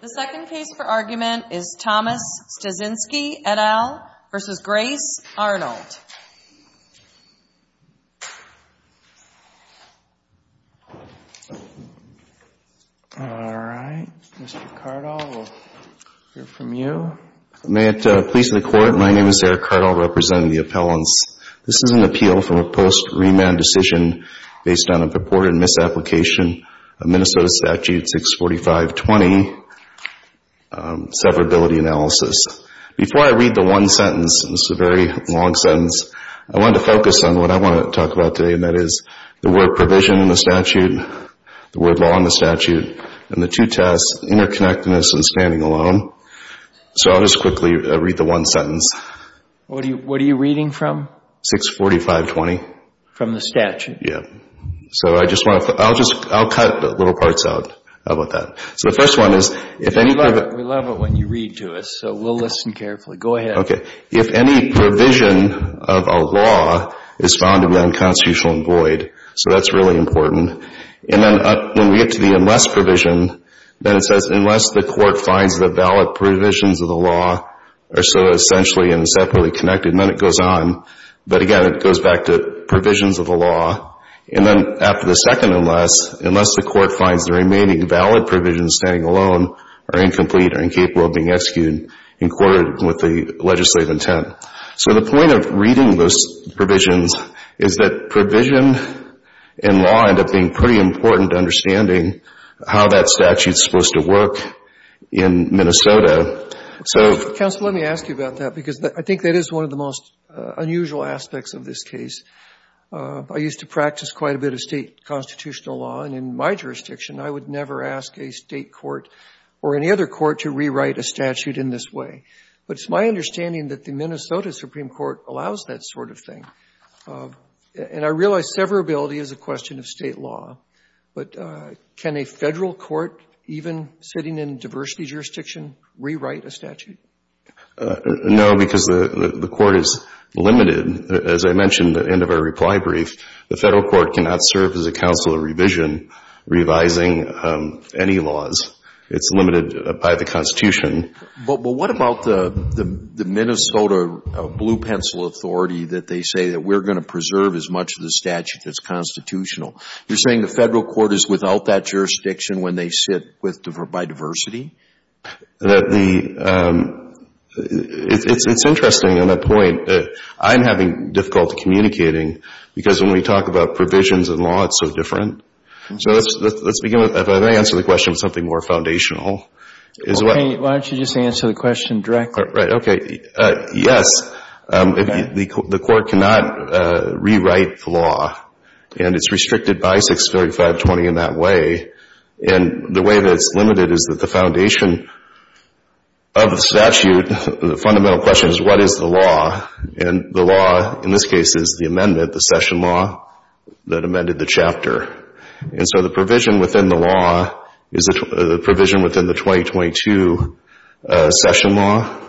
The second case for argument is Thomas Styczinski, et al. v. Grace Arnold. All right, Mr. Cardall, we'll hear from you. May it please the Court, my name is Eric Cardall, representing the appellants. This is an appeal from a post-remand decision based on a purported misapplication of Minnesota Statute 645.20, severability analysis. Before I read the one sentence, this is a very long sentence, I want to focus on what I want to talk about today, and that is the word provision in the statute, the word law in the statute, and the two tests, interconnectedness and standing alone. So I'll just quickly read the one sentence. What are you reading from? 645.20. From the statute. Yeah. So I just want to, I'll just, I'll cut little parts out of that. So the first one is, if any... We love it when you read to us, so we'll listen carefully. Go ahead. Okay. If any provision of a law is found to be unconstitutional and void, so that's really important. And then when we get to the unless provision, then it says, unless the court finds the valid provisions of the law are so essentially and separately connected, and then it goes on. But again, it goes back to provisions of the law. And then after the second unless, unless the court finds the remaining valid provisions, standing alone, are incomplete or incapable of being executed in accordance with the legislative intent. So the point of reading those provisions is that provision in law end up being pretty important to understanding how that statute's supposed to work in Minnesota. So... Counsel, let me ask you about that, because I think that is one of the most unusual aspects of this case. I used to practice quite a bit of state constitutional law, and in my jurisdiction, I would never ask a state court or any other court to rewrite a statute in this way. But it's my understanding that the Minnesota Supreme Court allows that sort of thing. And I realize severability is a question of state law, but can a Federal court even sitting in a diversity jurisdiction rewrite a statute? No, because the Court is limited. As I mentioned at the end of our reply brief, the Federal court cannot serve as a counsel of revision, revising any laws. It's limited by the Constitution. But what about the Minnesota Blue Pencil Authority that they say that we're going to preserve as much of the statute that's constitutional? You're saying the Federal court is without that jurisdiction when they sit by diversity? The... It's interesting on that point. I'm having difficulty communicating, because when we talk about provisions in law, it's so different. So let's begin with... If I may answer the question with something more foundational. Okay. Why don't you just answer the question directly? Right. Okay. Yes. The Court cannot rewrite the law. And it's restricted by 63520 in that way. And the way that it's limited is that the foundation of the statute, the fundamental question is, what is the law? And the law, in this case, is the amendment, the session law that amended the chapter. And so the provision within the law is the provision within the 2022 session law.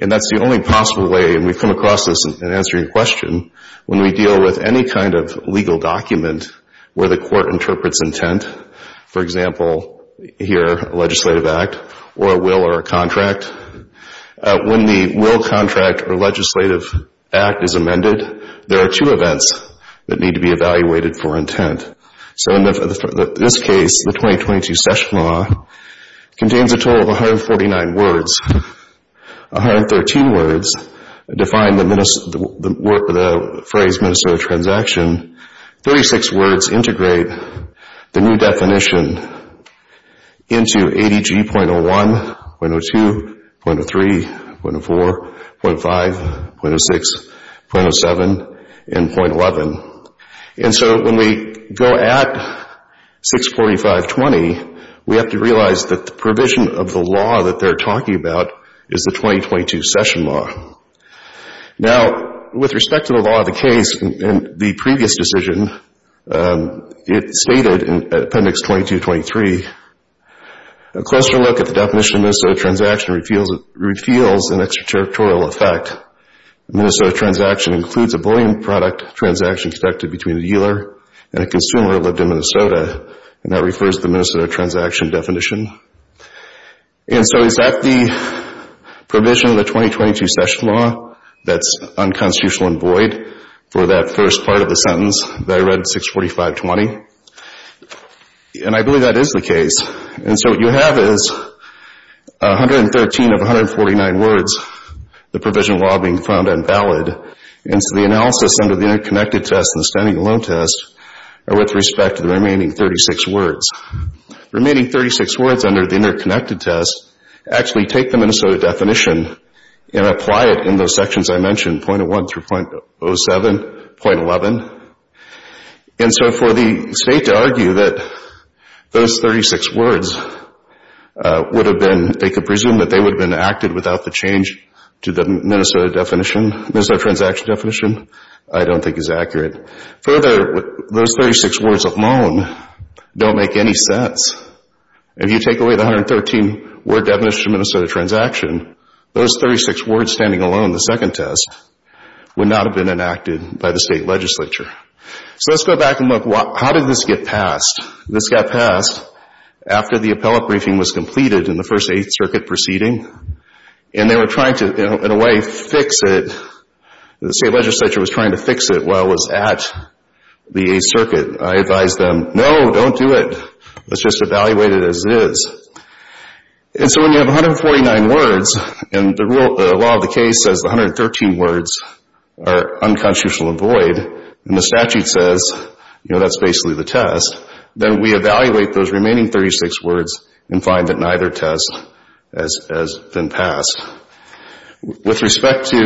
And that's the only possible way, and we've come across this in answering your question, when we deal with any kind of legal document where the Court interprets intent. For example, here, a legislative act or a will or a contract. When the will, contract, or legislative act is amended, there are two events that need to be evaluated for intent. So in this case, the 2022 session law contains a total of 149 words. 113 words define the phrase ministerial transaction. 36 words integrate the new definition into 80G.01, .02, .03, .04, .05, .06, .07, and .11. And so when we go at 64520, we have to realize that the provision of the law that they're talking about is the 2022 session law. Now, with respect to the law of the case, in the previous decision, it stated in Appendix 2223, a closer look at the definition of ministerial transaction reveals an extraterritorial effect. A ministerial transaction includes a bullion product transaction conducted between a dealer and a consumer who lived in Minnesota. And that refers to the ministerial transaction definition. And so is that the provision of the 2022 session law that's unconstitutional and void for that first part of the sentence that I read at 64520? And I believe that is the case. And so what you have is 113 of 149 words, the provision law, being found invalid. And so the analysis under the interconnected test and the standing alone test are with respect to the remaining 36 words. The remaining 36 words under the interconnected test actually take the Minnesota definition and apply it in those sections I mentioned, .01 through .07, .11. And so for the state to argue that those 36 words would have been, they could presume that they would have been acted without the change to the Minnesota definition, Minnesota transaction definition, I don't think is accurate. Further, those 36 words alone don't make any sense. If you take away the 113-word definition of Minnesota transaction, those 36 words standing alone, the second test, would not have been enacted by the state legislature. So let's go back and look, how did this get passed? This got passed after the appellate briefing was completed in the first Eighth Circuit proceeding. And they were trying to, in a way, fix it. The state legislature was trying to fix it while it was at the Eighth Circuit. I advised them, no, don't do it. Let's just evaluate it as it is. And so when you have 149 words and the law of the case says the 113 words are unconstitutional and void, and the statute says, you know, that's basically the test, then we evaluate those remaining 36 words and find that neither test has been passed. With respect to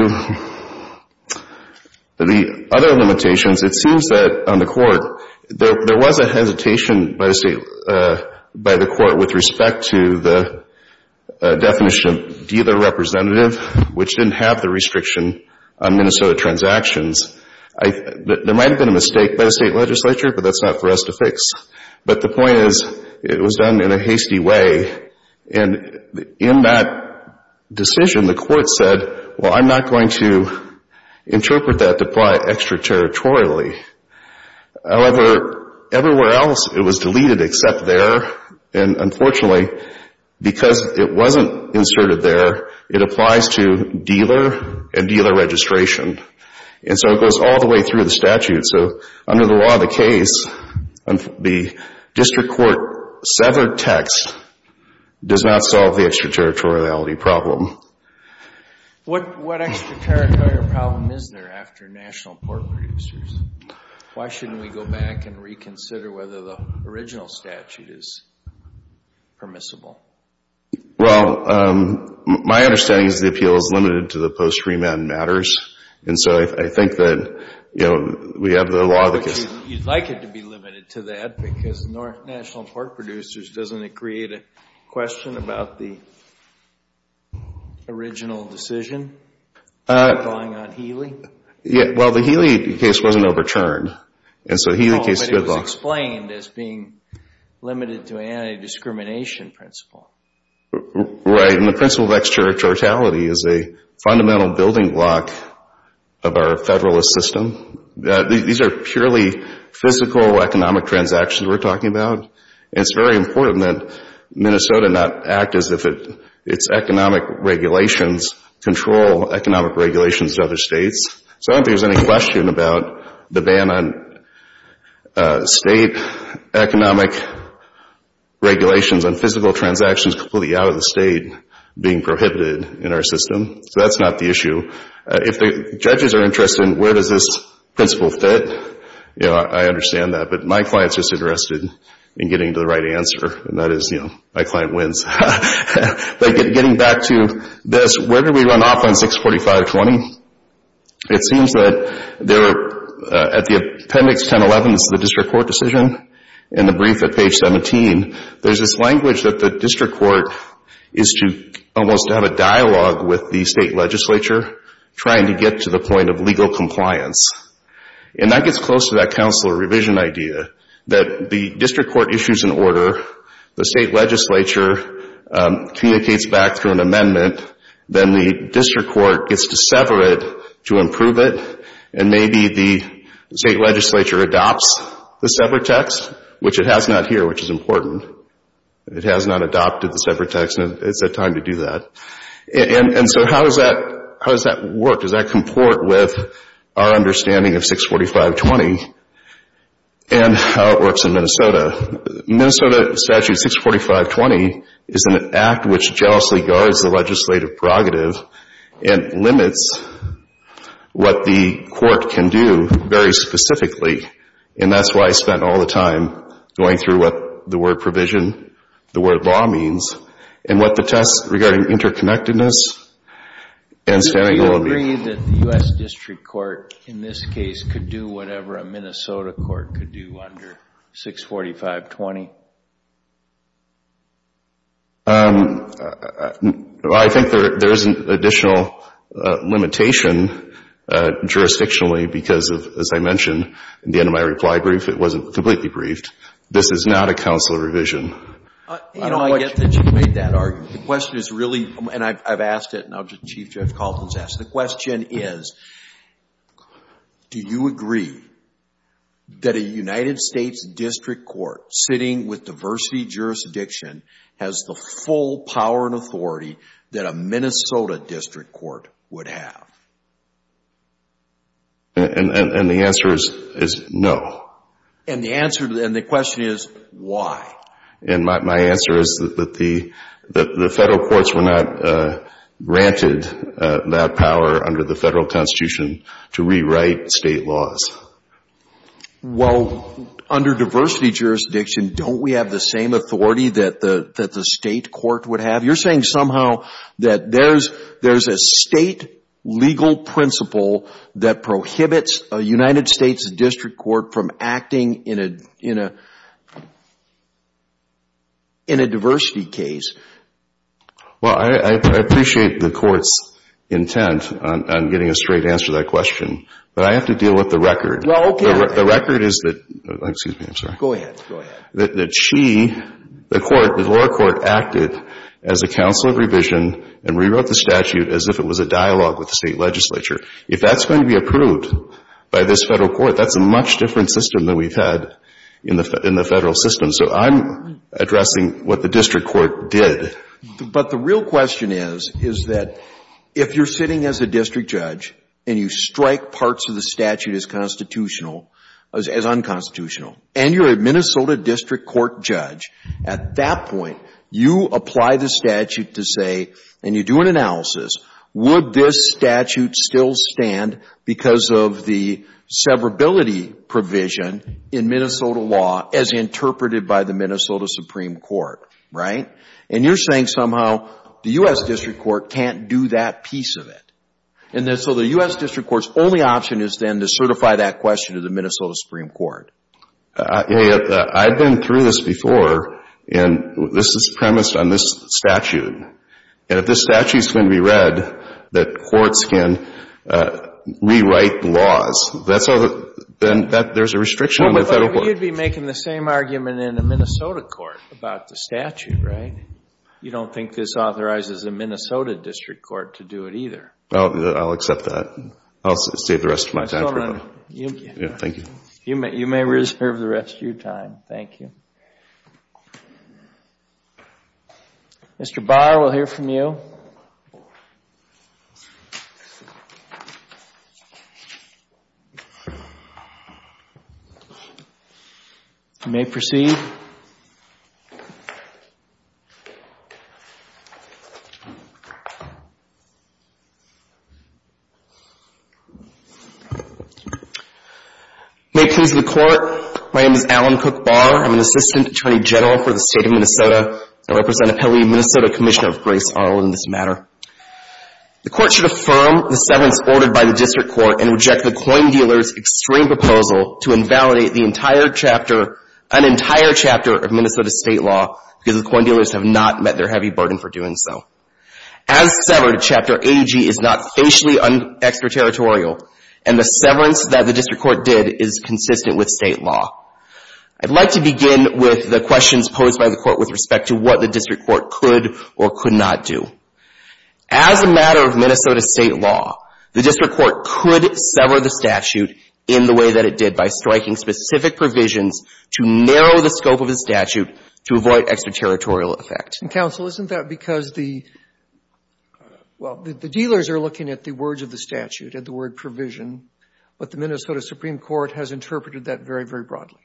the other limitations, it seems that on the Court, there was a hesitation by the Court with respect to the definition of dealer representative, which didn't have the restriction on Minnesota transactions. There might have been a mistake by the state legislature, but that's not for us to fix. But the point is, it was done in a hasty way. And in that decision, the Court said, well, I'm not going to interpret that to apply it extraterritorially. However, everywhere else, it was deleted except there. And unfortunately, because it wasn't inserted there, it applies to dealer and dealer registration. And so it goes all the way through the statute. So under the law of the case, the district court severed text does not solve the extraterritoriality problem. What extraterritorial problem is there after national port producers? Why shouldn't we go back and reconsider whether the original statute is permissible? Well, my understanding is the appeal is limited to the post-treatment matters. And so I think that, you know, we have the law of the case. You'd like it to be limited to that because national port producers, doesn't it create a question about the original decision going on Healy? Well, the Healy case wasn't overturned. But it was explained as being limited to an anti-discrimination principle. Right, and the principle of extraterritoriality is a fundamental building block of our Federalist system. These are purely physical economic transactions we're talking about. It's very important that Minnesota not act as if its economic regulations control economic regulations to other states. So I don't think there's any question about the ban on state economic regulations and physical transactions completely out of the state being prohibited in our system. So that's not the issue. If the judges are interested in where does this principle fit, you know, I understand that. But my client's just interested in getting to the right answer. And that is, you know, my client wins. But getting back to this, where do we run off on 645.20? It seems that at the appendix 1011, the district court decision, in the brief at page 17, there's this language that the district court is to almost have a dialogue with the state legislature trying to get to the point of legal compliance. And that gets close to that counselor revision idea that the district court issues an order, the state legislature communicates back through an amendment, then the district court gets to sever it to improve it, and maybe the state legislature adopts the severed text, which it has not here, which is important. It has not adopted the severed text, and it's that time to do that. And so how does that work? Does that comport with our understanding of 645.20 and how it works in Minnesota? Minnesota statute 645.20 is an act which jealously guards the legislative prerogative and limits what the court can do very specifically. And that's why I spent all the time going through what the word provision, the word law means, and what the test regarding interconnectedness and standing alone means. Do you think that the U.S. district court, in this case, could do whatever a Minnesota court could do under 645.20? I think there is an additional limitation jurisdictionally because, as I mentioned at the end of my reply brief, it wasn't completely briefed. This is not a counselor revision. You know, I get that you made that argument. The question is really, and I've asked it, and I'll just, Chief Judge Kalten's asked it. The question is, do you agree that a United States district court sitting with diversity jurisdiction has the full power and authority that a Minnesota district court would have? And the answer is no. And the question is, why? And my answer is that the federal courts were not granted that power under the federal constitution to rewrite state laws. Well, under diversity jurisdiction, don't we have the same authority that the state court would have? You're saying somehow that there's a state legal principle that prohibits a United States district court from acting in a diversity case. Well, I appreciate the court's intent on getting a straight answer to that question, but I have to deal with the record. The record is that she, the court, the lower court, acted as a counselor revision and rewrote the statute as if it was a dialogue with the state legislature. If that's going to be approved by this federal court, that's a much different system than we've had in the federal system. So I'm addressing what the district court did. But the real question is, is that if you're sitting as a district judge and you strike parts of the statute as constitutional, as unconstitutional, and you're a Minnesota district court judge, at that point, you apply the statute to say, and you do an analysis, would this statute still stand because of the severability provision in Minnesota law as interpreted by the Minnesota Supreme Court, right? And you're saying somehow the U.S. district court can't do that piece of it. And so the U.S. district court's only option is then to certify that question to the Minnesota Supreme Court. I've been through this before, and this is premised on this statute. And if this statute's going to be read that courts can rewrite the laws, then there's a restriction on the federal court. But you'd be making the same argument in a Minnesota court about the statute, right? You don't think this authorizes a Minnesota district court to do it either. I'll accept that. I'll save the rest of my time for that. Thank you. You may reserve the rest of your time. Thank you. Mr. Barr, we'll hear from you. Thank you. You may proceed. May it please the Court, my name is Alan Cook Barr. I'm an assistant attorney general for the state of Minnesota. I represent Appellee Minnesota Commissioner of Grace Arlen in this matter. The Court should affirm the severance ordered by the district court and reject the coin dealer's extreme proposal to invalidate the entire chapter, an entire chapter of Minnesota state law, because the coin dealers have not met their heavy burden for doing so. As severed, Chapter 80G is not facially extraterritorial, and the severance that the district court did is consistent with state law. I'd like to begin with the questions posed by the Court with respect to what the district court could or could not do. As a matter of Minnesota state law, the district court could sever the statute in the way that it did, by striking specific provisions to narrow the scope of the statute to avoid extraterritorial effect. Counsel, isn't that because the, well, the dealers are looking at the words of the statute, at the word provision, but the Minnesota Supreme Court has interpreted that very, very broadly?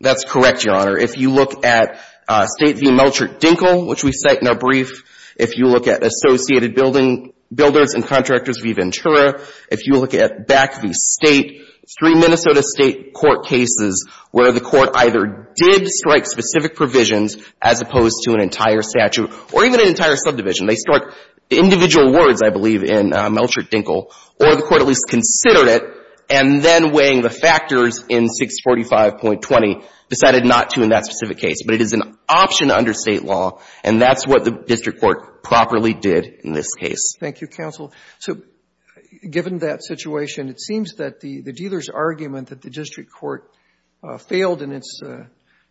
That's correct, Your Honor. If you look at State v. Melchert-Dinkel, which we cite in our brief, if you look at Associated Builders and Contractors v. Ventura, if you look at BAC v. State, it's three Minnesota state court cases where the Court either did strike specific provisions as opposed to an entire statute, or even an entire subdivision. They struck individual words, I believe, in Melchert-Dinkel, or the Court at least considered it, and then weighing the factors in 645.20, decided not to in that specific case. But it is an option under State law, and that's what the district court properly did in this case. Thank you, counsel. So given that situation, it seems that the dealer's argument that the district court failed in its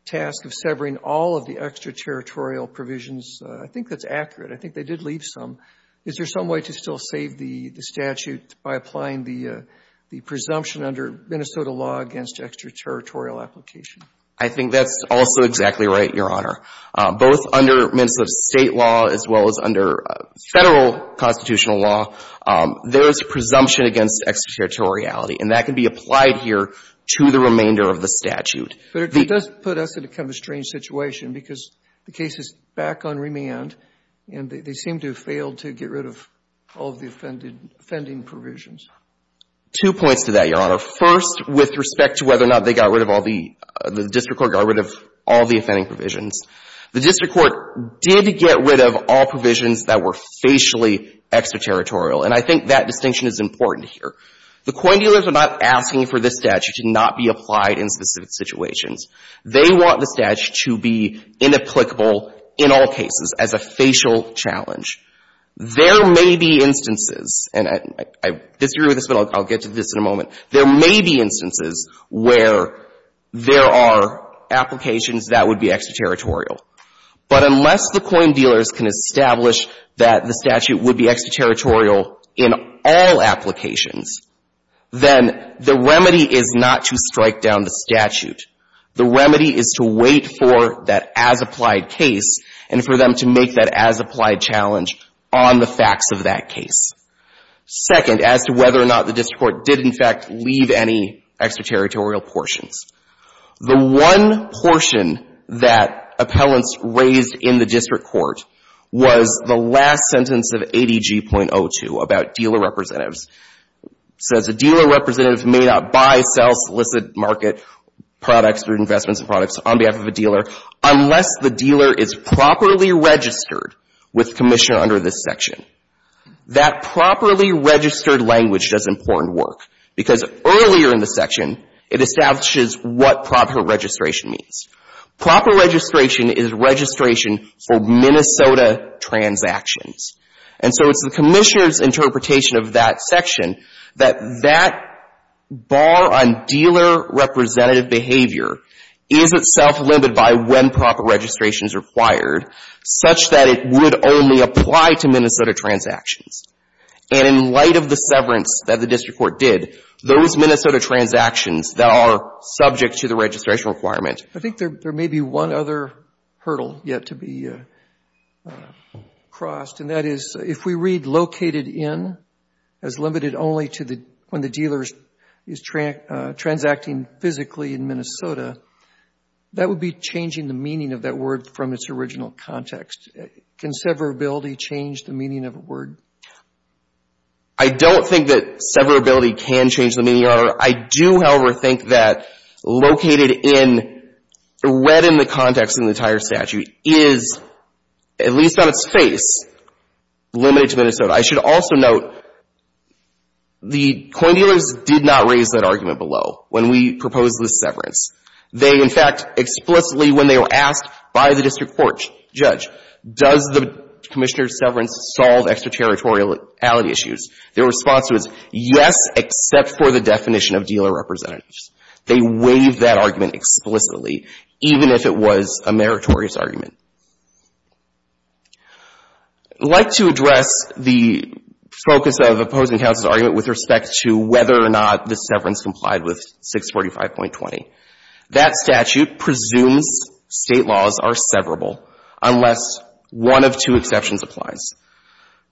task of severing all of the extraterritorial provisions, I think that's accurate. I think they did leave some. Is there some way to still save the statute by applying the presumption under Minnesota law against extraterritorial application? I think that's also exactly right, Your Honor. Both under Minnesota State law as well as under Federal constitutional law, there is a presumption against extraterritoriality, and that can be applied here to the remainder of the statute. But it does put us in kind of a strange situation, because the case is back on remand, and they seem to have failed to get rid of all of the offending provisions. Two points to that, Your Honor. First, with respect to whether or not they got rid of all the — the district court got rid of all the offending provisions. The district court did get rid of all provisions that were facially extraterritorial, and I think that distinction is important here. The coin dealers are not asking for this statute to not be applied in specific situations. They want the statute to be inapplicable in all cases as a facial challenge. There may be instances, and I disagree with this, but I'll get to this in a moment. There may be instances where there are applications that would be extraterritorial. But unless the coin dealers can establish that the statute would be extraterritorial in all applications, then the remedy is not to strike down the statute. The remedy is to wait for that as-applied case and for them to make that as-applied challenge on the facts of that case. Second, as to whether or not the district court did, in fact, leave any extraterritorial portions, the one portion that appellants raised in the district court was the last sentence of ADG.02 about dealer representatives. It says a dealer representative may not buy, sell, solicit, market products or investments in products on behalf of a dealer unless the dealer is properly registered with the commission under this section. That properly registered language does important work because earlier in the section, it establishes what proper registration means. Proper registration is registration for Minnesota transactions. And so it's the commissioner's interpretation of that section that that bar on dealer representative behavior is itself limited by when proper registration is required such that it would only apply to Minnesota transactions. And in light of the severance that the district court did, those Minnesota transactions that are subject to the registration requirement. I think there may be one other hurdle yet to be crossed, and that is if we read located in as limited only to when the dealer is transacting physically in Minnesota, that would be changing the meaning of that word from its original context. Can severability change the meaning of a word? I don't think that severability can change the meaning. Your Honor, I do, however, think that located in, read in the context in the entire statute is, at least on its face, limited to Minnesota. I should also note the coin dealers did not raise that argument below when we proposed the severance. They, in fact, explicitly when they were asked by the district court judge, does the commissioner's severance solve extraterritoriality issues, their response was yes, except for the definition of dealer representatives. They waived that argument explicitly, even if it was a meritorious argument. I'd like to address the focus of opposing counsel's argument with respect to whether or not the severance complied with 645.20. That statute presumes State laws are severable unless one of two exceptions applies.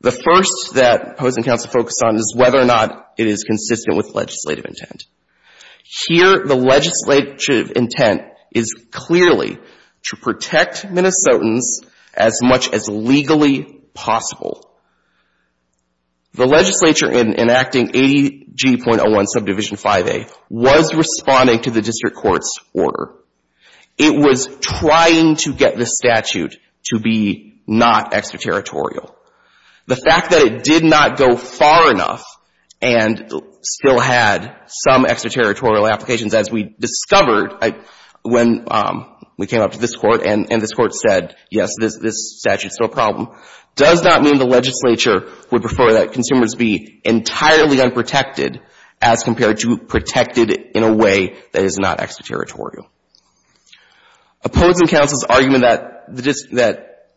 The first that opposing counsel focused on is whether or not it is consistent with legislative intent. Here the legislative intent is clearly to protect Minnesotans as much as legally possible. The legislature in enacting 80G.01 subdivision 5A was responding to the district court's order. It was trying to get the statute to be not extraterritorial. The fact that it did not go far enough and still had some extraterritorial applications, as we discovered when we came up to this Court and this Court said, yes, this statute's still a problem, does not mean the legislature would prefer that consumers be entirely unprotected as compared to protected in a way that is not extraterritorial. Opposing counsel's argument that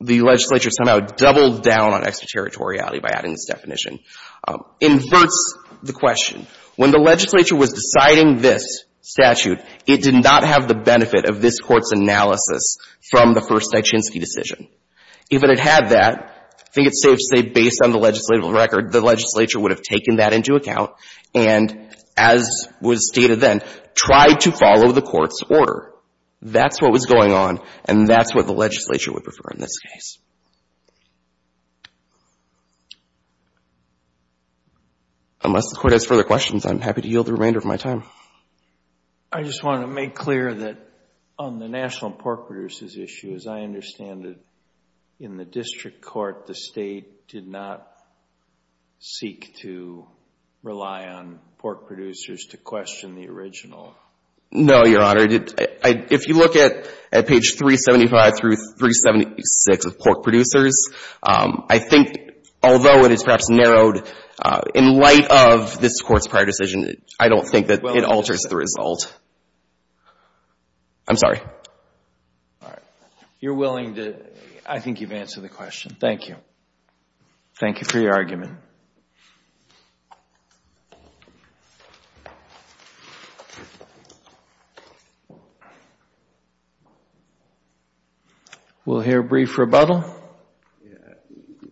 the legislature somehow doubled down on extraterritoriality by adding this definition inverts the question. When the legislature was deciding this statute, it did not have the benefit of this Court's analysis from the first Nijinsky decision. If it had that, I think it's safe to say based on the legislative record, the legislature would have taken that into account and, as was stated then, tried to follow the Court's order. That's what was going on, and that's what the legislature would prefer in this case. Unless the Court has further questions, I'm happy to yield the remainder of my time. I just want to make clear that on the national pork producers issue, as I understand it, in the district court, the state did not seek to rely on pork producers to question the original. No, Your Honor. If you look at page 375 through 376 of pork producers, I think although it is perhaps in light of this Court's prior decision, I don't think that it alters the result. I'm sorry. All right. You're willing to, I think you've answered the question. Thank you. Thank you for your argument. We'll hear a brief rebuttal.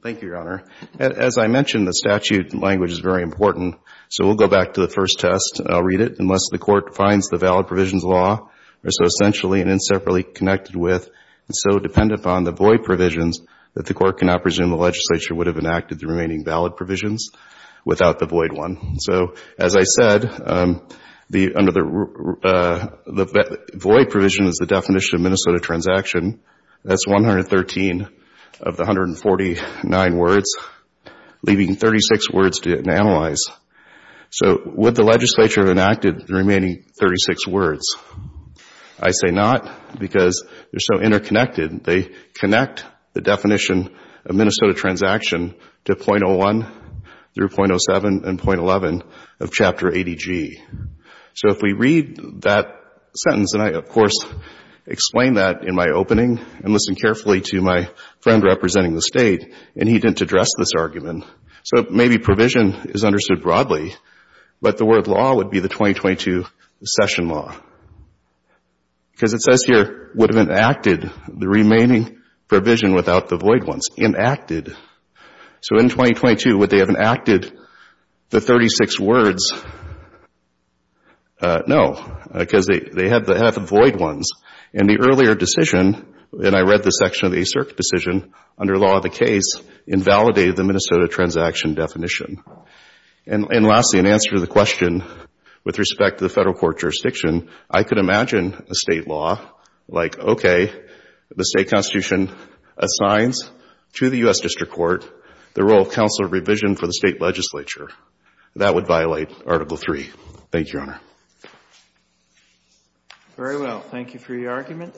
Thank you, Your Honor. As I mentioned, the statute language is very important, so we'll go back to the first test. I'll read it. Unless the Court finds the valid provisions law are so essentially and inseparably connected with and so dependent upon the void provisions that the Court cannot presume the legislature would have enacted the remaining valid provisions without the void one. So, as I said, the void provision is the definition of Minnesota transaction. That's 113 of the 149 words, leaving 36 words to analyze. So, would the legislature have enacted the remaining 36 words? I say not, because they're so interconnected. They connect the definition of Minnesota transaction to .01 through .07 and .11 of Chapter 80G. So, if we read that sentence, and I, of course, explain that in my opening and listen carefully to my friend representing the State, and he didn't address this argument, so maybe provision is understood broadly, but the word law would be the 2022 session law. Because it says here, would have enacted the remaining provision without the void ones. Enacted. So, in 2022, would they have enacted the 36 words? No, because they have the void ones. And the earlier decision, and I read the section of the ACERC decision, under law of the case, invalidated the Minnesota transaction definition. And lastly, in answer to the question with respect to the Federal Court jurisdiction, I could imagine a State law like, okay, the State Constitution assigns to the U.S. District Court the role of counsel of revision for the State legislature. That would violate Article III. Thank you, Your Honor. Very well. Thank you for your argument.